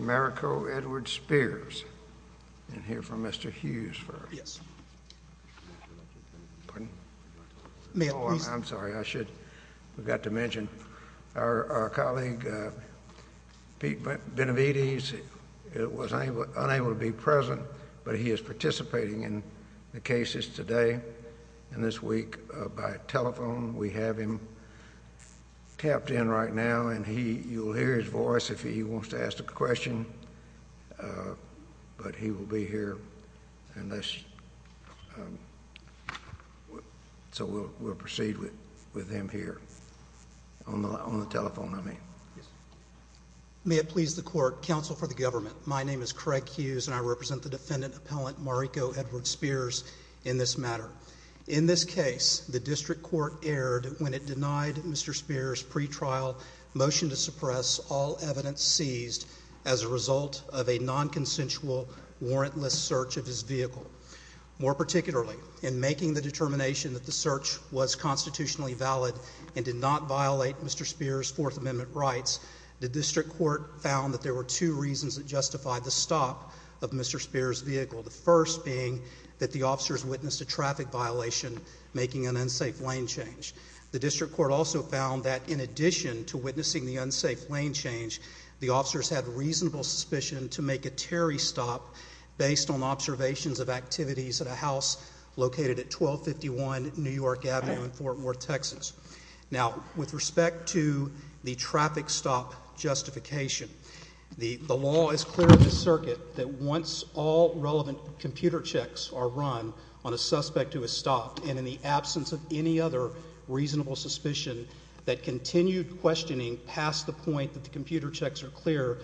Marrico Edward Spears and hear from Mr. Hughes first. I'm sorry I should have got to mention our colleague Pete Benavides was unable to be present but he is participating in the cases today and this week by telephone we have him tapped in right now and he you'll hear his voice if he wants to ask a question but he will be here and so we'll proceed with with him here on the telephone I mean. May it please the court counsel for the government my name is Craig Hughes and I represent the defendant appellant Marrico Edward Spears in this matter. In this case the district court erred when it denied Mr. Spears pretrial motion to suppress all evidence seized as a result of a non-consensual warrantless search of his vehicle. More particularly in making the determination that the search was constitutionally valid and did not violate Mr. Spears fourth amendment rights the district court found that there were two reasons that justified the stop of Mr. Spears vehicle. The first being that the officers witnessed a traffic violation making an unsafe lane change. The district court also found that in addition to witnessing the unsafe lane change the officers had reasonable suspicion to make a Terry stop based on observations of activities at a house located at 1251 New York Avenue in Fort Worth Texas. Now with respect to the traffic stop justification the the law is clear in the circuit that once all relevant computer checks are run on a suspect who has stopped and in the absence of any other reasonable suspicion that continued questioning past the point that the computer checks are clear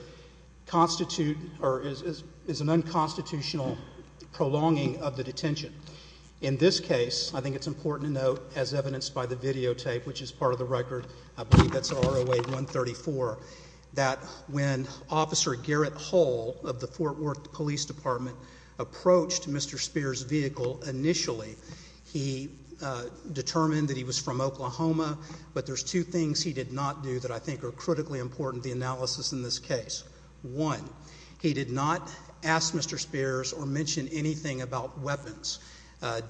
constitute or is an unconstitutional prolonging of the detention. In this case I think it's important to note as evidenced by the videotape which is part of the record I believe that's ROA 134 that when officer Garrett Hall of the Fort Worth Police Department approached Mr. Spears vehicle initially he determined that he was from Oklahoma but there's two things he did not do that I think are critically important the analysis in this case. One, he did not ask Mr. Spears or mention anything about weapons.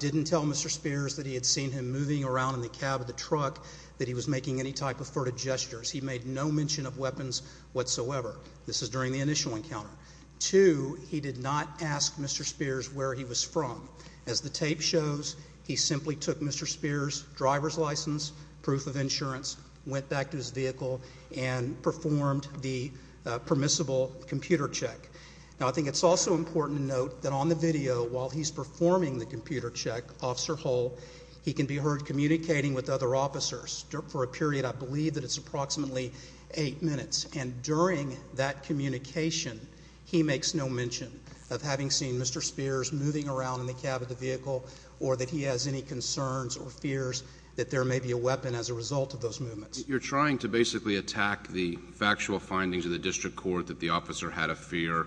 Didn't tell Mr. Spears that he had seen him moving around in the cab of the truck that he was making any type of furtive gestures. He made no mention of weapons whatsoever. This is during the initial encounter. Two, he did not ask Mr. Spears where he was from. As the tape shows he simply took Mr. Spears driver's license proof of insurance went back to his vehicle and performed the permissible computer check. Now I think it's also important to note that on the video while he's performing the computer check, Officer Hall, he can be heard communicating with other officers for a period I believe that it's approximately eight minutes and during that communication he makes no mention of having seen Mr. Spears moving around in the cab of the vehicle or that he has any concerns or fears that there may be a weapon as a result of those movements. You're trying to basically attack the factual findings of the district court that the officer had a fear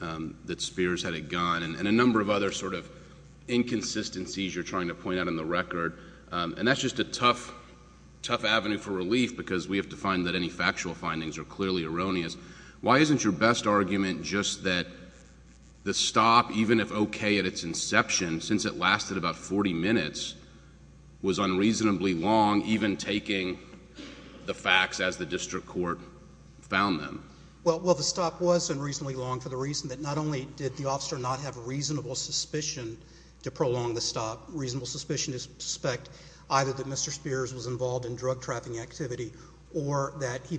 that Spears had a gun and a number of other sort of inconsistencies you're trying to point out in the record and that's just a tough, tough avenue for relief because we have to find that any factual findings are clearly erroneous. Why isn't your best argument just that the stop even if okay at its inception since it lasted about 40 minutes was unreasonably long even taking the facts as the district court found them? Well the stop was unreasonably long for the reason that not only did the officer not have reasonable suspicion to prolong the stop, reasonable suspicion to suspect either that Mr. Spears was involved in drug trafficking activity or that he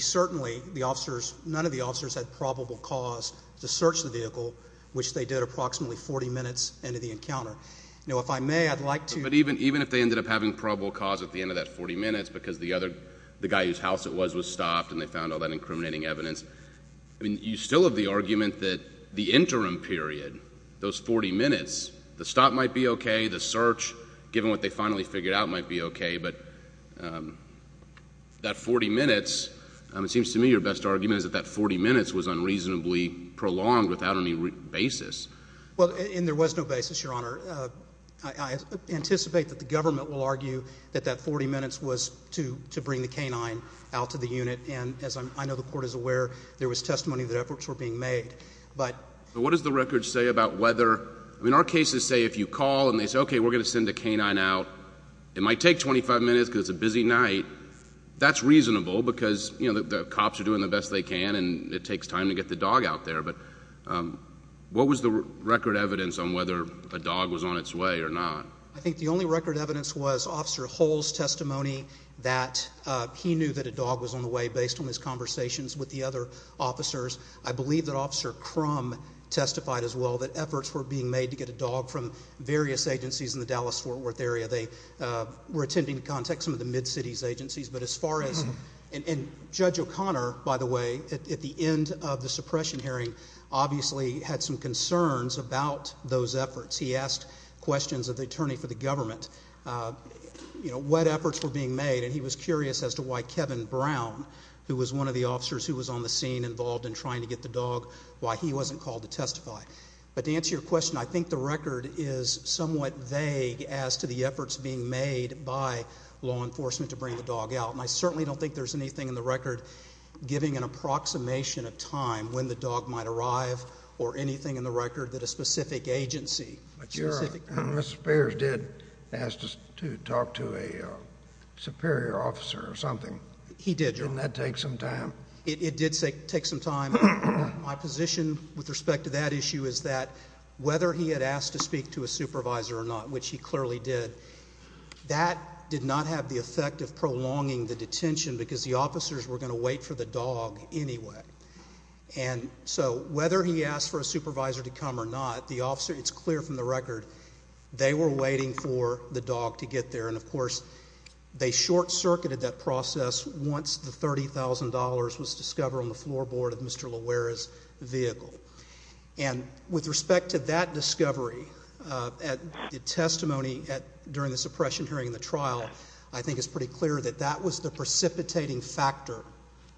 certainly the officers none of the officers had probable cause to search the vehicle which they did approximately 40 minutes into the encounter. Now if I may I'd like to... But even even if they ended up having probable cause at the end of that 40 minutes because the other the guy whose house it was was stopped and they found all that incriminating evidence I mean you still have the argument that the interim period those 40 minutes the stop might be okay the search given what they finally figured out might be okay but that 40 minutes it seems to me your best argument is that that 40 minutes was unreasonably prolonged without any basis. Well and there was no basis your honor I anticipate that the government will argue that that 40 minutes was to to bring the canine out to the unit and as I know the court is aware there was testimony that efforts were being made but... What does the record say about whether I mean our cases say if you call and they say okay we're gonna send a canine out it might take 25 minutes because it's a busy night that's reasonable because you know the cops are doing the best they can and it takes time to get the dog out there but what was the record evidence on whether a dog was on its way or not? I think the only record evidence was officer Hull's testimony that he knew that a dog was on the way based on his conversations with the other officers I believe that officer Crum testified as well that efforts were being made to get a dog from various agencies in the Dallas Fort Worth area they were attending to contact some of the mid cities agencies but as far as and Judge O'Connor by the way at the end of the suppression hearing obviously had some concerns about those efforts he asked questions of the attorney for the government you know what efforts were being made and he was curious as to why Kevin Brown who was one of the officers who was on the scene involved in trying to get the dog why he wasn't called to testify but to answer your question I think the record is somewhat vague as to the efforts being made by law enforcement to bring the dog out and I certainly don't think there's anything in the record giving an approximation of time when the dog might arrive or anything in the record that a specific agency. Mr. Spears did ask us to talk to a superior officer or something. He did. Didn't that take some time? It did take some time. My position with respect to that issue is that whether he had to speak to a supervisor or not which he clearly did that did not have the effect of prolonging the detention because the officers were going to wait for the dog anyway and so whether he asked for a supervisor to come or not the officer it's clear from the record they were waiting for the dog to get there and of course they short-circuited that process once the $30,000 was discovered on the floorboard of Mr. Loera's vehicle and with respect to that discovery at the testimony at during the suppression hearing in the trial I think it's pretty clear that that was the precipitating factor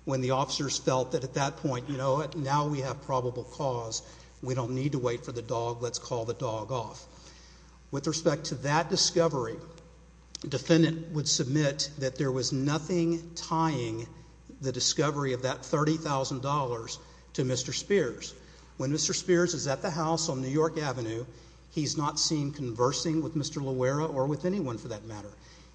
when the officers felt that at that point you know what now we have probable cause we don't need to wait for the dog let's call the dog off. With respect to that discovery defendant would submit that there was nothing tying the discovery of that $30,000 to Mr. Spears. When Mr. Spears is at the house on New York Avenue he's not seen conversing with Mr. Loera or with anyone for that matter.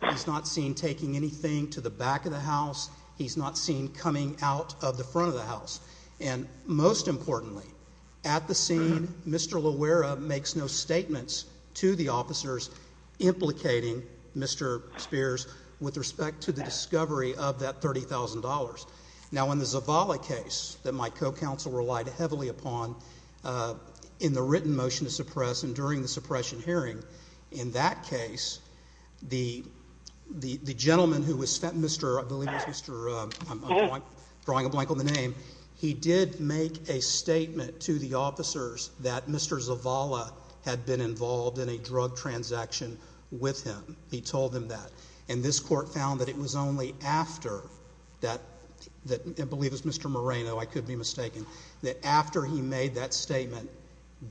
He's not seen taking anything to the back of the house. He's not seen coming out of the front of the house and most importantly at the scene Mr. Loera makes no statements to the officers implicating Mr. Spears with respect to the discovery of that $30,000. Now in the Zavala case that my co-counsel relied heavily upon in the written motion to suppress and during the suppression hearing in that case the the the gentleman who was Mr. I believe that's Mr. I'm drawing a blank on the name he did make a statement to the officers that Mr. Zavala had been involved in a drug transaction with him. He told them that and this court found that it was only after that that I was Mr. Moreno I could be mistaken that after he made that statement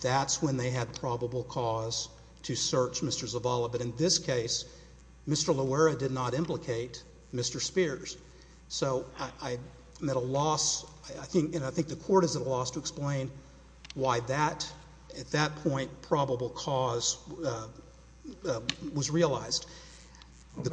that's when they had probable cause to search Mr. Zavala but in this case Mr. Loera did not implicate Mr. Spears. So I met a loss I think and I think the court is at a loss to explain why that at that point probable cause was realized. The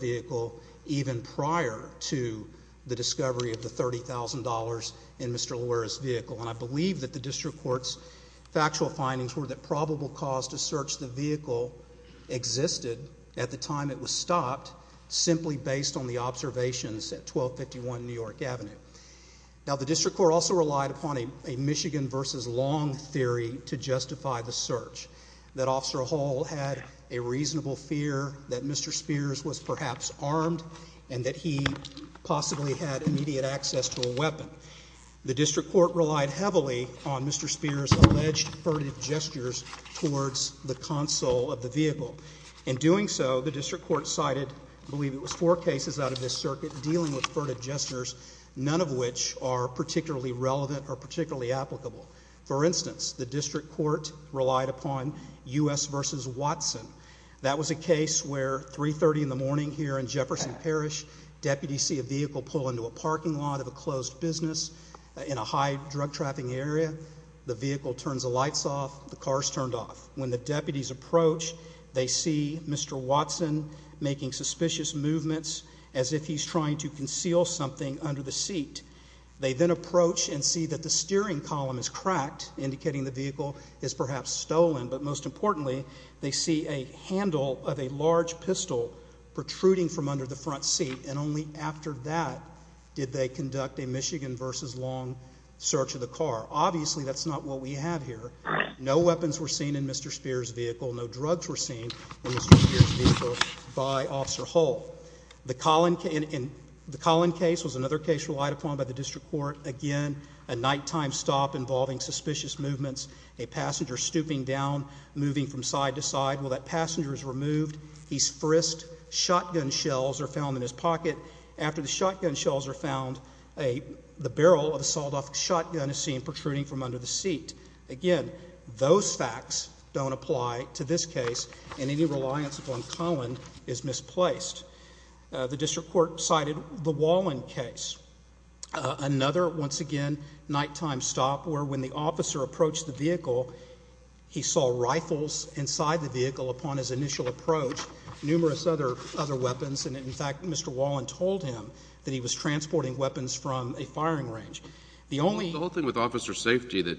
vehicle even prior to the discovery of the $30,000 in Mr. Loera's vehicle and I believe that the district courts factual findings were that probable cause to search the vehicle existed at the time it was stopped simply based on the observations at 1251 New York Avenue. Now the district court also relied upon a Michigan versus Long theory to justify the search that officer Hall had a suspicion that Mr. Spears was perhaps armed and that he possibly had immediate access to a weapon. The district court relied heavily on Mr. Spears alleged furtive gestures towards the console of the vehicle. In doing so the district court cited I believe it was four cases out of this circuit dealing with furtive gestures none of which are particularly relevant or particularly applicable. For instance the district court relied upon US versus Watson. That was a case where 3 30 in the morning here in Jefferson Parish deputies see a vehicle pull into a parking lot of a closed business in a high drug trapping area. The vehicle turns the lights off, the cars turned off. When the deputies approach, they see Mr Watson making suspicious movements as if he's trying to conceal something under the seat. They then approach and see that the steering column is cracked, indicating the vehicle is perhaps stolen. But most of the time it was a pistol protruding from under the front seat and only after that did they conduct a Michigan versus Long search of the car. Obviously that's not what we have here. No weapons were seen in Mr. Spears vehicle. No drugs were seen in Mr. Spears vehicle by officer Hall. The Collin case was another case relied upon by the district court. Again a nighttime stop involving suspicious movements, a passenger stooping down, moving from side to side. Well, that passenger is removed. He's frisked. Shotgun shells are found in his pocket. After the shotgun shells were found a barrel of a sold off shotgun is seen protruding from under the seat again. Those facts don't apply to this case, and any reliance upon Colin is misplaced. The district court cited the wall in case another once again nighttime stop where, when the officer approached the vehicle, he saw rifles inside the vehicle upon his initial approach. Numerous other other weapons. And in fact, Mr. Wallen told him that he was transporting weapons from a firing range. The only whole thing with officer safety that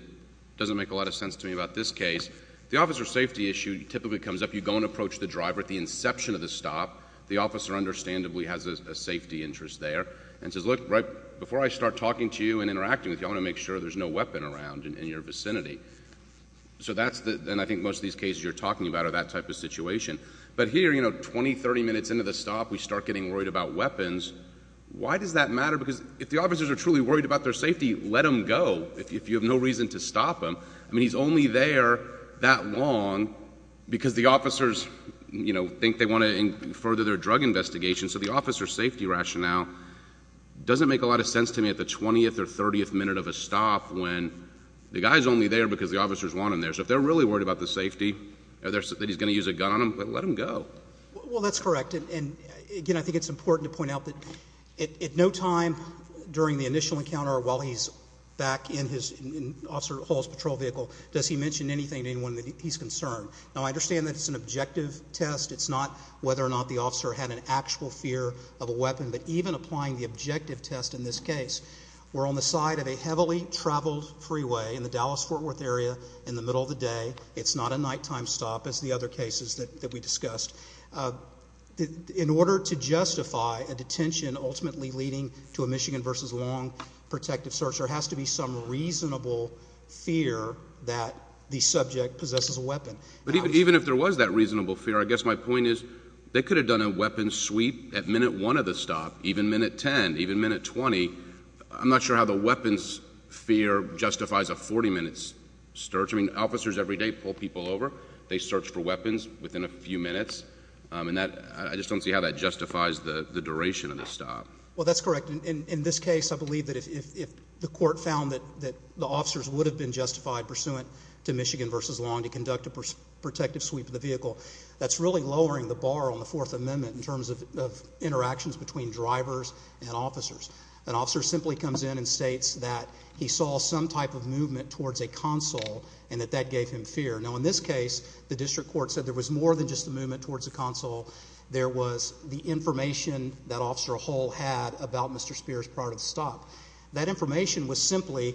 doesn't make a lot of sense to me about this case, the officer safety issue typically comes up. You go and approach the driver at the inception of the stop. The officer understandably has a safety interest there and says, Look, right before I start talking to you and interacting with you, I want to make sure there's no weapon around in your vicinity. So that's the, and I think most of these cases you're talking about are that type of situation. But here, you know, 20, 30 minutes into the stop, we start getting worried about weapons. Why does that matter? Because if the officers are truly worried about their safety, let them go. If you have no reason to stop them. I mean, he's only there that long because the officers, you know, think they want to further their drug investigation. So the officer safety rationale doesn't make a lot of sense to me at the 20th or 30th minute of a stop when the guy's only there because the officers want him there. So if they're really worried about the safety that he's going to use a gun on him, let him go. Well, that's correct. And again, I think it's important to point out that at no time during the initial encounter while he's back in his officer Hall's patrol vehicle, does he mention anything to anyone that he's concerned? Now, I understand that it's an objective test. It's not whether or not the officer had an actual fear of a weapon. But even applying the objective test in this case, we're on the side of a heavily traveled freeway in the Dallas-Fort Worth area in the middle of the day. It's not a nighttime stop as the other cases that we discussed. In order to justify a detention ultimately leading to a Michigan versus Long protective search, there has to be some reasonable fear that the subject possesses a weapon. But even if there was that reasonable fear, I guess my point is they could have done a weapon sweep at minute one of the stop, even minute 10, even minute 20. I'm not sure how the weapons fear justifies a 40 minutes search. I mean, officers every day pull people over. They search for weapons within a few minutes on that. I just don't see how that justifies the duration of the stop. Well, that's correct. In this case, I believe that if the court found that the officers would have been justified pursuant to Michigan versus Long to conduct a protective sweep of the vehicle, that's really lowering the bar on the Fourth Amendment in terms of interactions between drivers and officers. An officer simply comes in and states that he saw some type of movement towards a console and that that gave him fear. Now, in this case, the district court said there was more than just the movement towards the console. There was the information that Officer Hall had about Mr Spears prior to the stop. That information was simply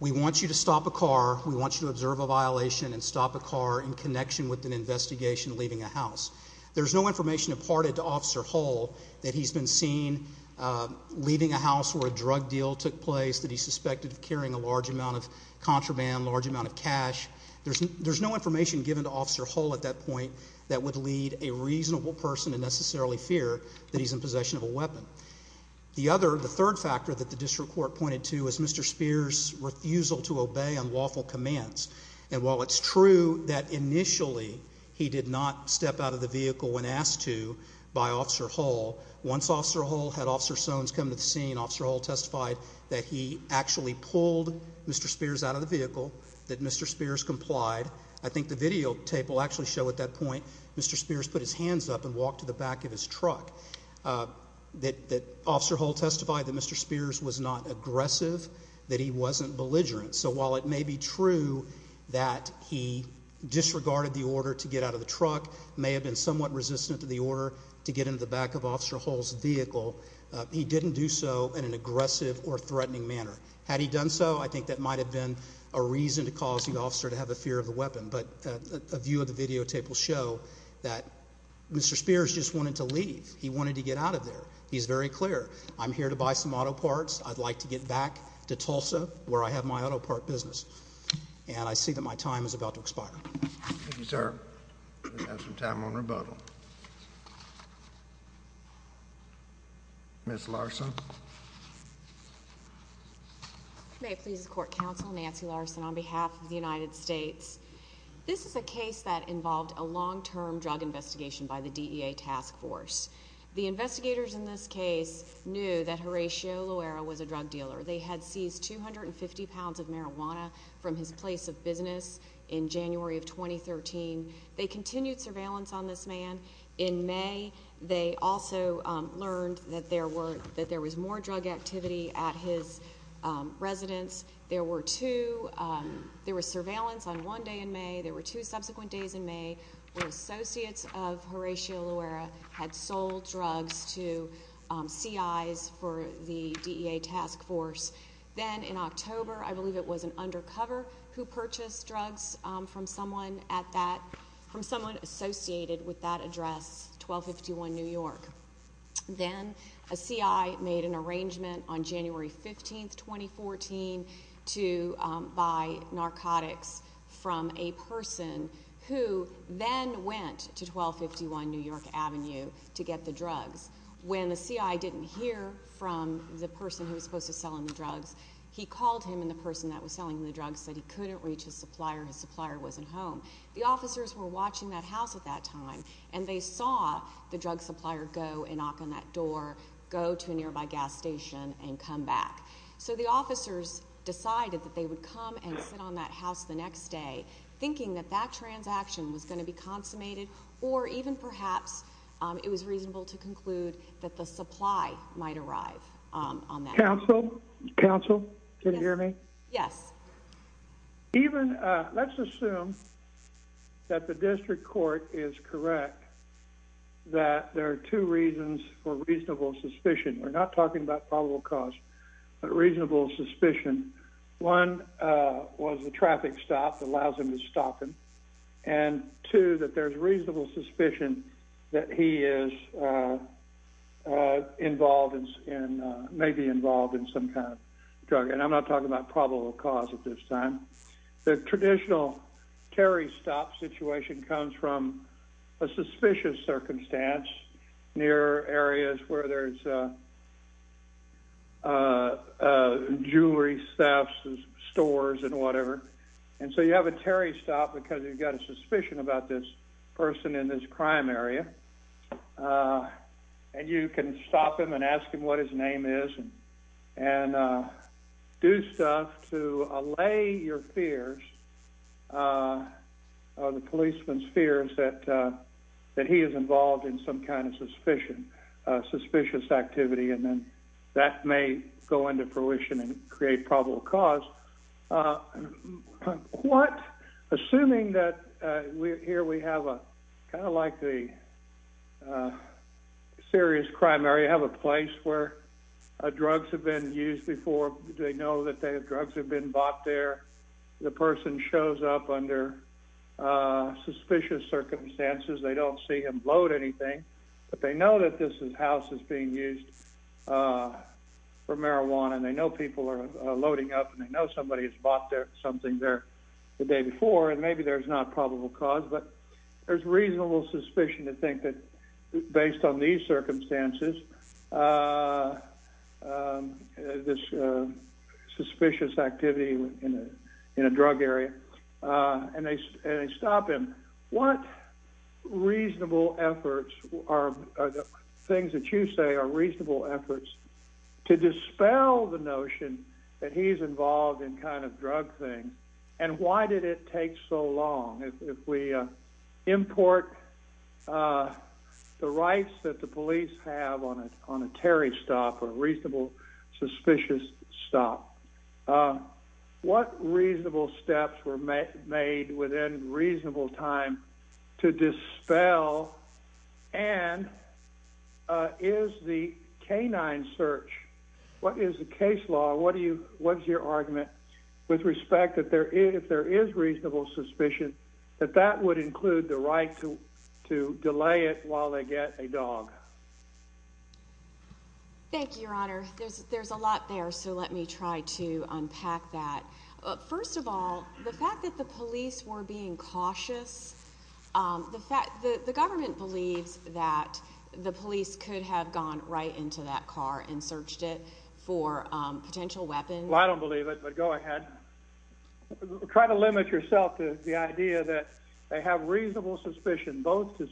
we want you to stop a car. We want you to observe a violation and stop a car in connection with an There's no information imparted to Officer Hall that he's been seen leaving a house where a drug deal took place that he suspected of carrying a large amount of contraband, large amount of cash. There's no information given to Officer Hall at that point that would lead a reasonable person to necessarily fear that he's in possession of a weapon. The other. The third factor that the district court pointed to is Mr Spears refusal to obey unlawful commands. And while it's true that initially he did not step out of the vehicle when asked to by Officer Hall. Once Officer Hall had Officer Sones come to the scene, Officer Hall testified that he actually pulled Mr Spears out of the vehicle that Mr Spears complied. I think the videotape will actually show at that point Mr Spears put his hands up and walked to the back of his truck. Uh, that that Officer Hall testified that Mr Spears was not aggressive, that he wasn't belligerent. So while it may be true that he disregarded the order to get out of the truck may have been somewhat resistant to the order to get into the back of Officer Hall's vehicle. He didn't do so in an aggressive or threatening manner. Had he done so, I think that might have been a reason to cause the officer to have a fear of the weapon. But a view of the videotape will show that Mr Spears just wanted to leave. He wanted to get out of there. He's very clear. I'm here to buy some auto parts. I'd like to get back to Tulsa where I have my auto part business. And I see that my time is about to expire. Thank you, sir. Have some time on rebuttal. Miss Larson. May it please the court counsel Nancy Larson on behalf of the United States. This is a case that involved a long term drug investigation by the D. A. Task force. The investigators in this case knew that Horatio Loera was a drug from his place of business in January of 2013. They continued surveillance on this man in May. They also learned that there were that there was more drug activity at his residence. There were two. There was surveillance on one day in May. There were two subsequent days in May where associates of Horatio Loera had sold drugs to C. I. S. For the D. A. Task force. Then in October, I undercover who purchased drugs from someone at that from someone associated with that address. 12 51 New York. Then a C. I. Made an arrangement on January 15th, 2014 to buy narcotics from a person who then went to 12 51 New York Avenue to get the drugs. When the C. I. Didn't hear from the person who was selling the drugs that he couldn't reach his supplier. His supplier wasn't home. The officers were watching that house at that time, and they saw the drug supplier go and knock on that door, go to a nearby gas station and come back. So the officers decided that they would come and sit on that house the next day, thinking that that transaction was gonna be consummated or even perhaps it was reasonable to conclude that the supply might arrive on that even let's assume that the district court is correct that there are two reasons for reasonable suspicion. We're not talking about probable cause, but reasonable suspicion. One was the traffic stop allows him to stop him and to that there's reasonable suspicion that he is, uh, involved in maybe involved in some kind of drug, and I'm not talking about probable cause at this time. The traditional Terry stop situation comes from a suspicious circumstance near areas where there's, uh, uh, jewelry staff stores and whatever. And so you have a Terry stop because you've got a suspicion about this person in this crime area. Uh, and you can stop him and ask him what his name is and, uh, do stuff to allay your fears. Uh, the policeman's fears that, uh, that he is involved in some kind of suspicion, suspicious activity, and then that may go into fruition and create probable cause. Uh, what? Assuming that we're here, we have a kind of like the, uh, serious crime area have a place where drugs have been used before. Do they know that they have drugs have been bought there? The person shows up under, uh, suspicious circumstances. They don't see him load anything, but they know that this is house is being used, uh, for marijuana. And I know people are loading up and I know somebody has bought their something there the day before, and maybe there's not probable cause, but there's reasonable suspicion to think that based on these circumstances, uh, uh, this, uh, suspicious activity in a drug area. Uh, and they stop him. What reasonable efforts are things that you say are reasonable efforts to dispel the notion that he's involved in kind of drug thing? And why did it take so long if we, uh, import, uh, the rights that the police have on it on a Terry stop or reasonable, suspicious stop? Uh, what reasonable steps were made within reasonable time to dispel? And, uh, is the canine search? What is the case law? What do you What's your argument with respect that there is if there is reasonable suspicion that that would include the right to to delay it while they get a dog? Thank you, Your Honor. There's there's a lot there. So let me try to unpack that. First of all, the fact that the police were being cautious, um, the fact that the government believes that the police could have gone right into that car and searched it for potential weapons. I don't believe it. But go ahead. Try to limit yourself to the idea that they have reasonable suspicion both to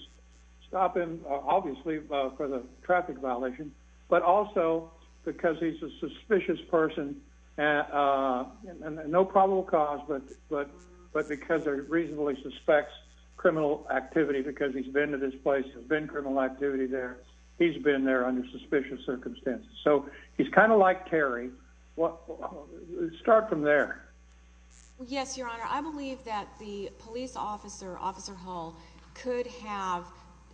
stop him, obviously, for the traffic violation, but also because he's a suspicious person. And, uh, no probable cause. But but but because they're reasonably suspects criminal activity because he's been to this place has been criminal activity there. He's been there under suspicious circumstances. So he's kind of like Terry. What? Start from there. Yes, Your Honor. I believe that the police officer, Officer Hall could have,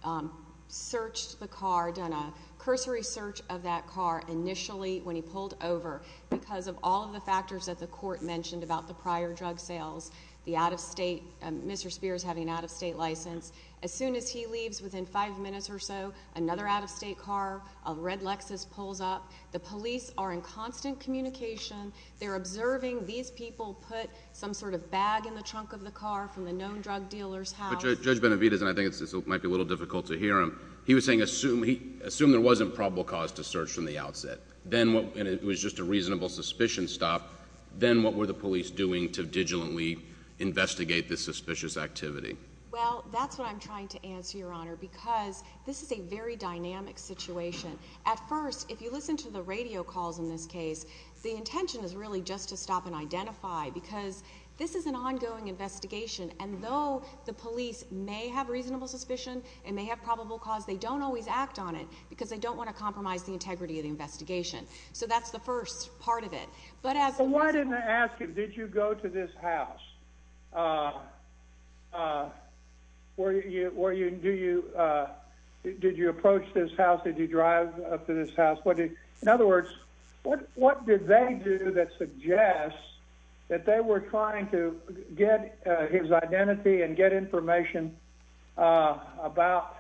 um, searched the car, done a cursory search of that car initially when he pulled over because of all of the factors that the court mentioned about the prior drug sales. The out of state Mr Spears having out of state license. As soon as he leaves within five minutes or so, another out of state car of red Lexus pulls up. The police are in constant communication. They're observing. These people put some sort of bag in the trunk of the car from the known drug dealer's house. Judge Benavides. And I think it might be a little difficult to hear him. He was saying, Assume he assumed there wasn't probable cause to search from the outset. Then what? And it was just a reasonable suspicion. Stop. Then what were the police doing to digitally investigate this answer, Your Honor? Because this is a very dynamic situation. At first, if you listen to the radio calls in this case, the intention is really just to stop and identify because this is an ongoing investigation. And though the police may have reasonable suspicion and may have probable cause, they don't always act on it because they don't want to compromise the integrity of the investigation. So that's the first part of it. But why didn't I ask? Did you go to this house? Uh, uh, where were you? Do you? Uh, did you approach this house? Did you drive up to this house? What? In other words, what? What did they do that suggests that they were trying to get his identity and get information, uh, about,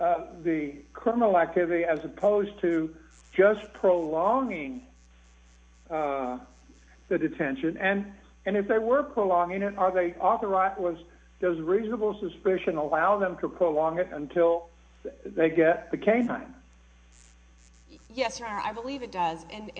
uh, the criminal activity as opposed to just prolonging, uh, the detention and and if they were prolonging it, are they authorized? Was does reasonable suspicion allow them to prolong it until they get the canine? Yes, Your Honor. I believe it does. And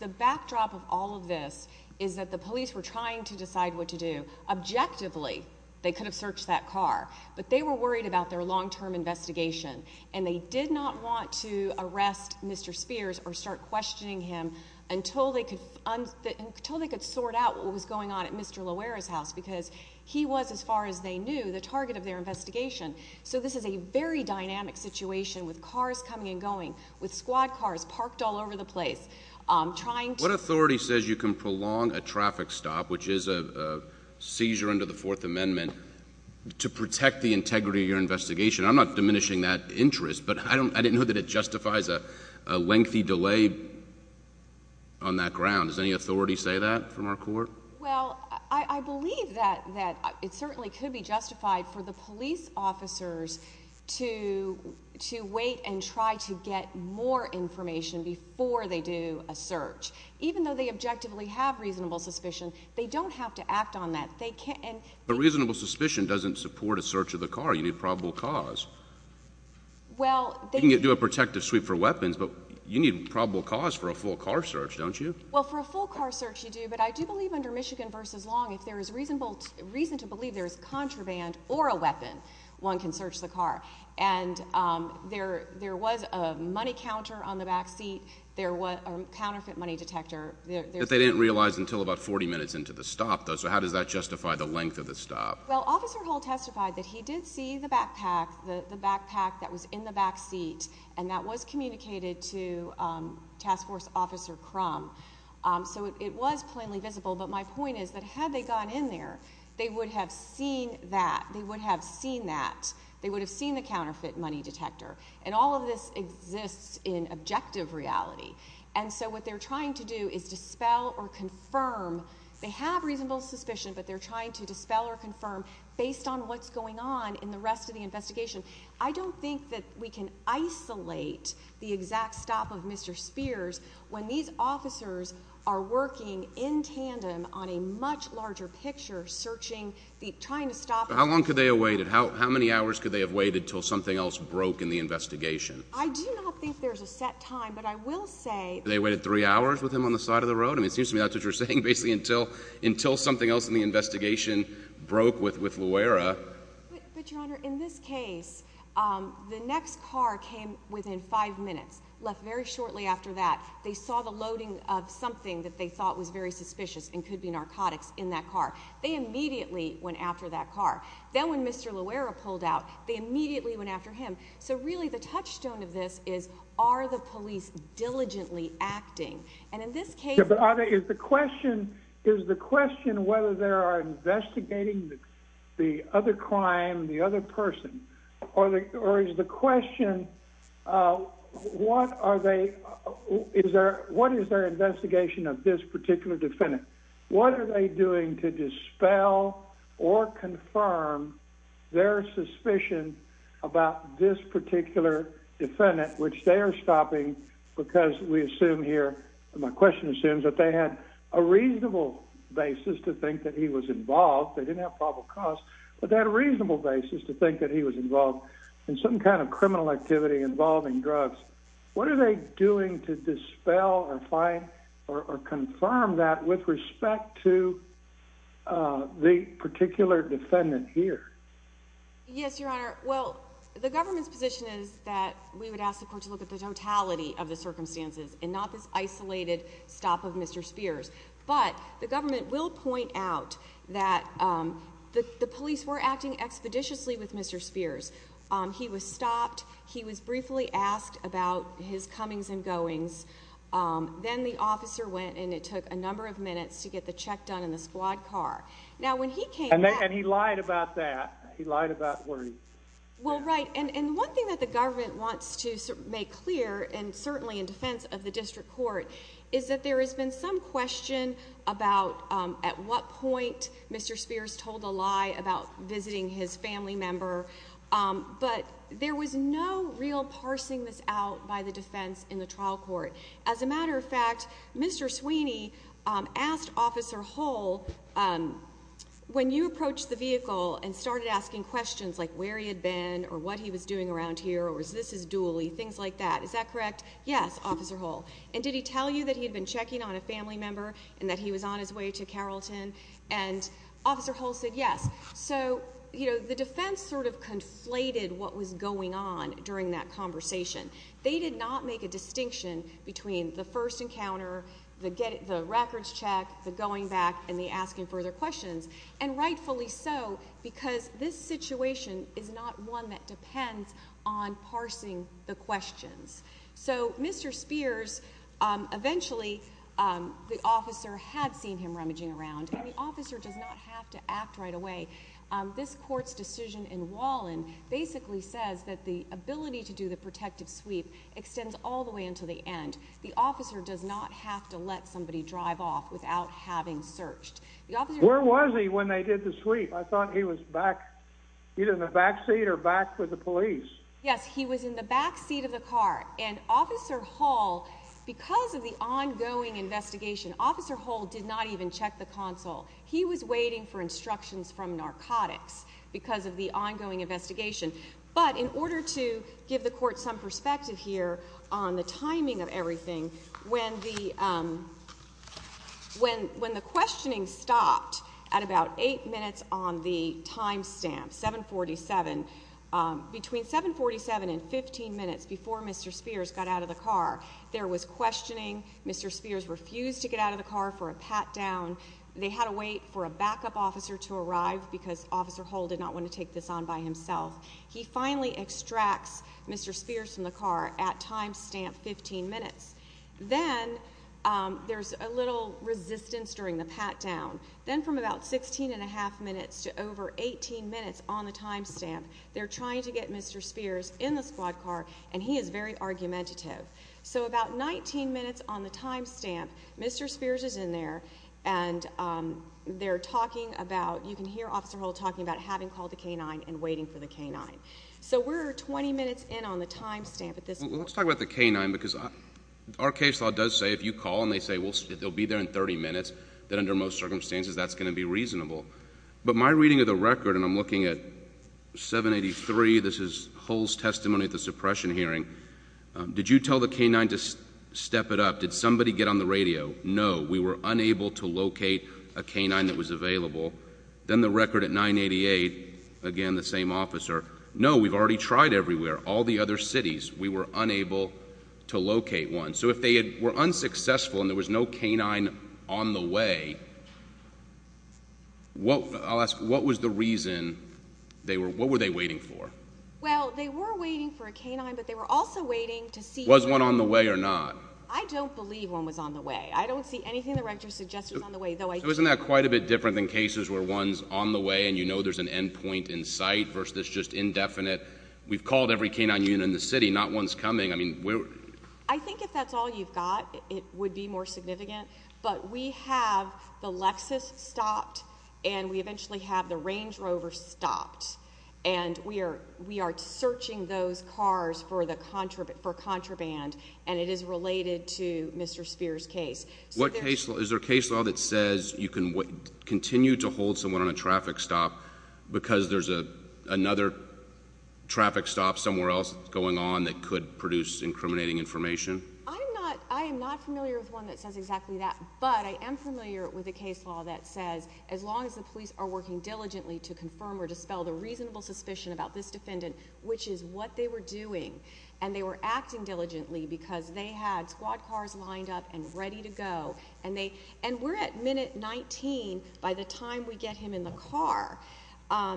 the backdrop of all of this is that the police were trying to decide what to do. Objectively, they could have searched that car, but they were worried about their long term investigation, and they did not want to arrest Mr Spears or start questioning him until they could until they could sort out what was going on at Mr Loera's house because he was, as far as they knew the target of their investigation. So this is a very dynamic situation with cars coming and going with squad cars parked all over the place. I'm trying. What authority says you can prolong a traffic stop, which is a seizure into the Fourth Amendment to protect the integrity of your investigation? I'm not diminishing that interest, but I don't. I didn't know that it justifies a lengthy delay on that ground. Is any authority say that from our court? Well, I believe that that it certainly could be justified for the police officers to to wait and try to get more information before they do a search. Even though they objectively have reasonable suspicion, they don't have to act on that. They can. But reasonable suspicion doesn't support a search of the car. You need probable cause. Well, they can get to a protective sweep for weapons, but you need probable cause for a full car search, don't you? Well, for a full car search, you do. But I do believe under Michigan versus long, if there is reasonable reason to believe there's contraband or a weapon, one can search the car. And, um, there there was a money counter on the back seat. There was a counterfeit money detector that they didn't realize until about 40 minutes into the stop, though. So how does that justify the length of the stop? Well, Officer Hall testified that he did see the backpack, the backpack that was in the back seat, and that was communicated to, um, task force officer crumb. Eso it was plainly visible. But my point is that had they gone in there, they would have seen that they would have seen that they would have seen the counterfeit money detector. And all of this exists in objective reality. And so what they're trying to do is dispel or confirm they have reasonable suspicion, but they're trying to dispel or confirm based on what's going on in the rest of the investigation. I don't think that we can isolate the exact stop of Mr Spears when these officers are working in tandem on a much larger picture, searching, trying to stop. How long could they awaited? How many hours could they have waited till something else broke in the investigation? I do three hours with him on the side of the road, and it seems to me that you're saying basically until until something else in the investigation broke with with Luara. But, Your Honor, in this case, the next car came within five minutes left very shortly after that. They saw the loading of something that they thought was very suspicious and could be narcotics in that car. They immediately went after that car. Then, when Mr Loera pulled out, they immediately went after him. So really, the touchstone of this is are the police diligently acting? And in this case, the question is the question whether there are investigating the other crime, the other person, or is the question what are they? Is there? What is their investigation of this particular defendant? What are they doing to dispel or confirm their stopping? Because we assume here my question assumes that they had a reasonable basis to think that he was involved. They didn't have probable cause, but that reasonable basis to think that he was involved in some kind of criminal activity involving drugs. What are they doing to dispel or find or confirm that with respect to the particular defendant here? Yes, Your Honor. Well, the government's position is that we would ask the look at the totality of the circumstances and not this isolated stop of Mr Spears. But the government will point out that the police were acting expeditiously with Mr Spears. He was stopped. He was briefly asked about his comings and goings. Then the officer went, and it took a number of minutes to get the check done in the squad car. Now, when he came and he lied about that, he lied about worried. Well, right. And one thing that the clear and certainly in defense of the district court is that there has been some question about at what point Mr Spears told a lie about visiting his family member. But there was no real parsing this out by the defense in the trial court. As a matter of fact, Mr Sweeney asked Officer Hull, um, when you approach the vehicle and started asking questions like where he had been or what he was doing around here, or is this is dually things like that. Is that correct? Yes, Officer Hull. And did he tell you that he had been checking on a family member and that he was on his way to Carrollton? And Officer Hull said yes. So, you know, the defense sort of conflated what was going on during that conversation. They did not make a distinction between the first encounter, the get the records check, the going back and the asking further questions. And rightfully so, because this situation is not one that depends on parsing the questions. So, Mr Spears, um, eventually, um, the officer had seen him rummaging around. The officer does not have to act right away. Um, this court's decision in Wallen basically says that the ability to do the protective sweep extends all the way into the end. The officer does not have to let somebody drive off without having searched. Where was he when they did the sweep? I thought he was back either in the back seat or back with the police. Yes, he was in the back seat of the car and Officer Hall because of the ongoing investigation, Officer Hull did not even check the console. He was waiting for instructions from narcotics because of the ongoing investigation. But in order to give the court some perspective here on the when when the questioning stopped at about eight minutes on the time stamp 7 47 between 7 47 and 15 minutes before Mr Spears got out of the car, there was questioning. Mr Spears refused to get out of the car for a pat down. They had to wait for a backup officer to arrive because Officer Hall did not want to take this on by himself. He finally extracts Mr Spears from the car at time stamp 15 minutes. Then there's a little resistance during the pat down. Then from about 16.5 minutes to over 18 minutes on the time stamp, they're trying to get Mr Spears in the squad car and he is very argumentative. So about 19 minutes on the time stamp, Mr Spears is in there and they're talking about you can hear Officer Hall talking about having called the canine and waiting for the canine. So we're 20 minutes in on the time stamp at this. Let's talk about the canine because our case law does say if you call and they say, well, they'll be there in 30 minutes that under most circumstances that's going to be reasonable. But my reading of the record and I'm looking at 7 83. This is holes testimony at the suppression hearing. Did you tell the canine to step it up? Did somebody get on the radio? No, we were unable to locate a canine that was available. Then the record at 9 88 again, the same officer. No, we've already tried everywhere. All the other cities. We were unable to locate one. So if they were unsuccessful and there was no canine on the way, what I'll ask, what was the reason they were? What were they waiting for? Well, they were waiting for a canine, but they were also waiting to see was one on the way or not. I don't believe one was on the way. I don't see anything. The rector suggested on the way, though. I wasn't that quite a bit different than cases where one's on the way and you know there's an end point in sight versus just indefinite. We've called every canine unit in the city, not one's coming. I mean, I think if that's all you've got, it would be more significant. But we have the Lexus stopped, and we eventually have the Range Rover stopped. And we are. We are searching those cars for the contraband for contraband, and it is related to Mr Spears case. What case is their case? Well, that says you can continue to hold someone on a traffic stop because there's a another traffic stop somewhere else going on that could produce incriminating information. I'm not. I am not familiar with one that says exactly that, but I am familiar with the case law that says as long as the police are working diligently to confirm or dispel the reasonable suspicion about this defendant, which is what they were doing, and they were acting diligently because they had squad cars lined up and ready to go and they and we're at minute 19. By the time we get him in the car,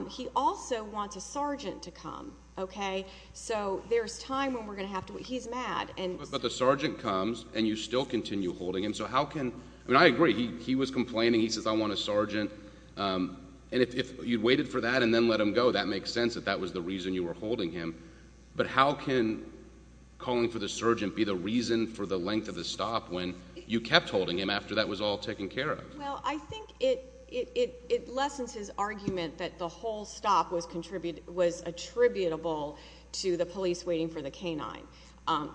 he also wants a sergeant to come. Okay, so there's time when we're gonna have to wait. He's mad, but the sergeant comes and you still continue holding him. So how can I agree? He was complaining. He says I want a sergeant. Um, and if you waited for that and then let him go, that makes sense that that was the reason you were holding him. But how can calling for the surgeon be the reason for the length of the stop when you kept holding him after that was all taken care of? Well, I think it it lessens his argument that the whole stop was contributed, was attributable to the police waiting for the canine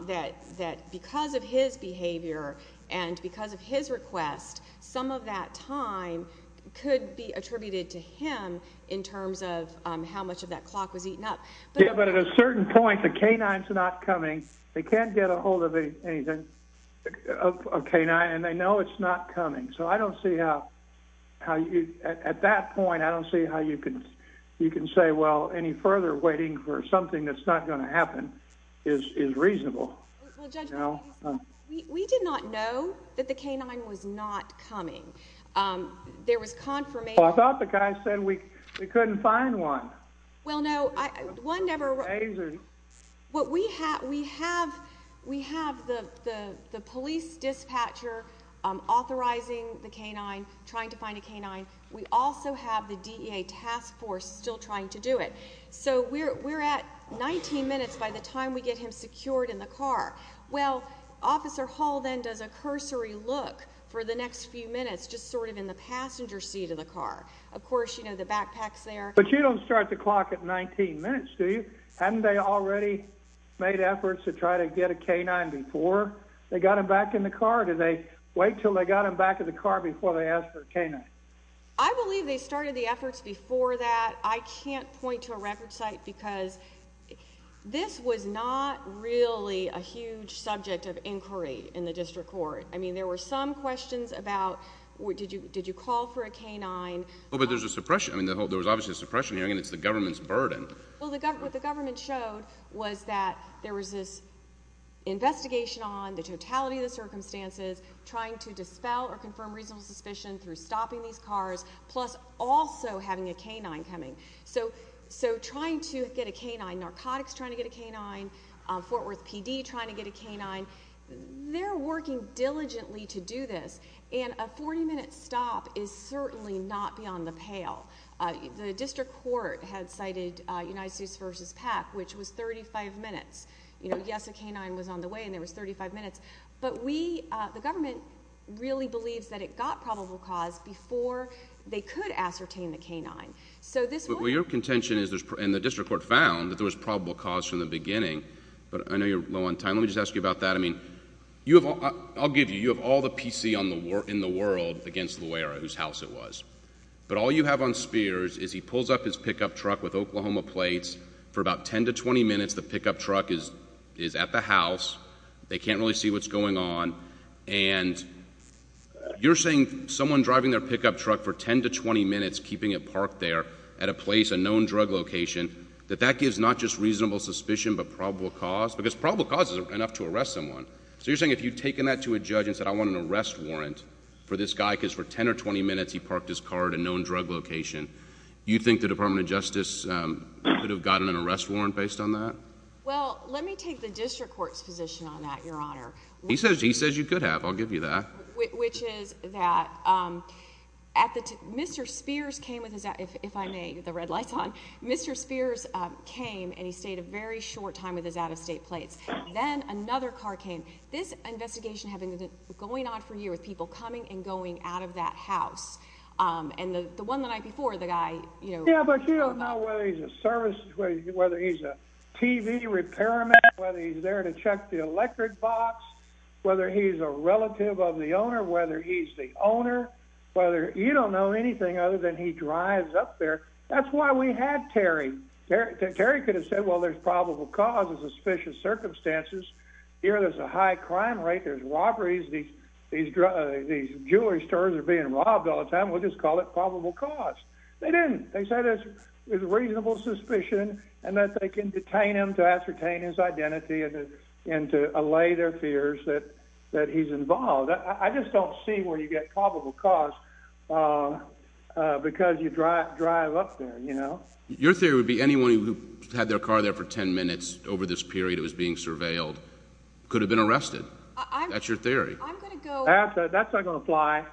that that because of his behavior and because of his request, some of that time could be attributed to him in terms of how much of that clock was eaten up. But at a certain point, the canines not coming. They can't get a living anything of canine, and they know it's not coming. So I don't see how how you at that point. I don't see how you could. You can say, Well, any further waiting for something that's not gonna happen is reasonable. We did not know that the canine was not coming. Um, there was confirmation. I thought the guy said we couldn't find one. Well, no, one never. What we have we have. We have the police dispatcher authorizing the canine trying to find a canine. We also have the task force still trying to do it. So we're at 19 minutes by the time we get him secured in the car. Well, Officer Hall then does a cursory look for the next few minutes, just sort of in the passenger seat of the car. Of course, you know the backpacks there, but you don't start the clock at 19 minutes. Do you? Hadn't they already made efforts to try to get a canine before they got him back in the car? Do they wait till they got him back in the car before they asked for a canine? I believe they started the efforts before that. I can't point to a record site because this was not really a huge subject of inquiry in the district court. I mean, there were some questions about what did you? Did you call for a canine? But there's a suppression. I mean, there was obviously suppression here, and it's the government's burden. What the government showed was that there was this investigation on the totality of the circumstances, trying to dispel or confirm reasonable suspicion through stopping these cars, plus also having a canine coming. So trying to get a canine, narcotics trying to get a canine, Fort Worth PD trying to get a canine, they're working diligently to do this, and a 40-minute stop is certainly not beyond the pale. The district court had cited United States versus PAC, which was 35 minutes. You know, yes, a canine was on the way, and there was 35 minutes, but we, the government, really believes that it got probable cause before they could ascertain the canine. So this... Well, your contention is, and the district court found, that there was probable cause from the beginning, but I know you're low on time. Let me just ask you about that. I mean, you have, I'll give you, you have all the PC in the world against Loera, whose house it was, but all you have on Spears is he pulls up his pickup truck with Oklahoma plates. For about 10 to 20 minutes, the pickup truck is at the house. They can't really see what's going on, and you're saying someone driving their pickup truck for 10 to 20 minutes, keeping it parked there at a place, a known drug location, that that gives not just reasonable suspicion, but probable cause? Because probable cause is enough to arrest someone. So you're taking that to a judge and said, I want an arrest warrant for this guy, because for 10 or 20 minutes, he parked his car at a known drug location. You think the Department of Justice could have gotten an arrest warrant based on that? Well, let me take the district court's position on that, Your Honor. He says you could have. I'll give you that. Which is that Mr. Spears came with his... if I may, get the red lights on. Mr. Spears came, and he stayed a very short time with his out-of-state plates. Then another car came. This investigation had been going on for a year, with people coming and going out of that house. And the one the night before, the guy, you know... Yeah, but you don't know whether he's a service... whether he's a TV repairman, whether he's there to check the electric box, whether he's a relative of the owner, whether he's the owner, whether... you don't know anything other than he drives up there. That's why we had Terry. Terry could have said, well, there's probable cause and suspicious circumstances. Here, there's a high crime rate. There's robberies. These jewelry stores are being robbed all the time. We'll just call it probable cause. They didn't. They said there's reasonable suspicion and that they can detain him to ascertain his identity and to allay their fears that he's involved. I just don't see where you get probable cause because you drive up there, you know? Your theory would be anyone who had their car there for 10 minutes over this period it was being surveilled could have been arrested. That's your theory. I'm going to go... That's not going to apply.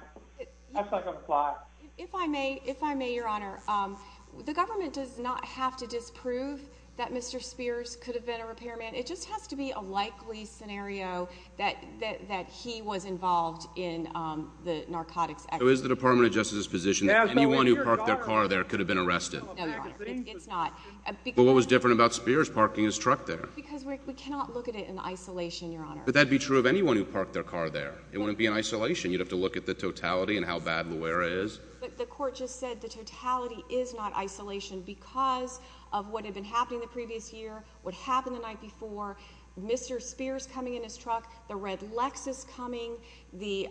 That's not going to apply. If I may, if I may, Your Honor, the government does not have to disprove that Mr. Spears could have been a repairman. It just has to be a likely scenario that he was involved in the narcotics activity. So is the Department of Justice's position that anyone who parked their car there could have been arrested? No, Your Honor. It's not. But what was different about Spears parking his truck there? Because we cannot look at it in isolation, Your Honor. But that would be true of anyone who parked their car there. It wouldn't be in isolation. You'd have to look at the totality and how bad Loera is. But the court just said the totality is not isolation because of what had been happening the previous year, what happened the night before, Mr. Spears coming in his truck, the red Lexus coming, the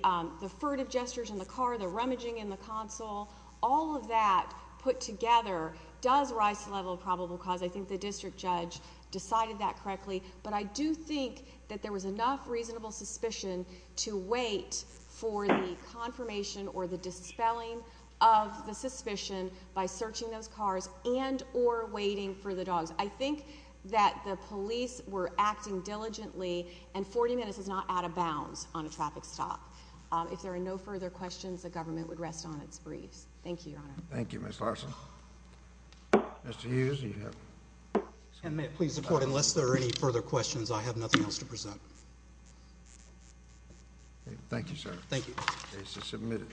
furtive gestures in the car, the rummaging in the console, all of that put together does rise to the level of probable cause. I think the district judge decided that correctly. But I do think that there was enough reasonable suspicion to wait for the confirmation or the dispelling of the suspicion by searching those cars and or waiting for the dogs. I think that the police were acting diligently, and 40 minutes is not out of bounds on a traffic stop. If there are no further questions, the government would rest on its briefs. Thank you, Your Honor. Thank you, Ms. Larson. Mr. Hughes, you have a question. And may it please the Court, unless there are any further questions, I have nothing else to present. Thank you, sir. Thank you. The case is submitted.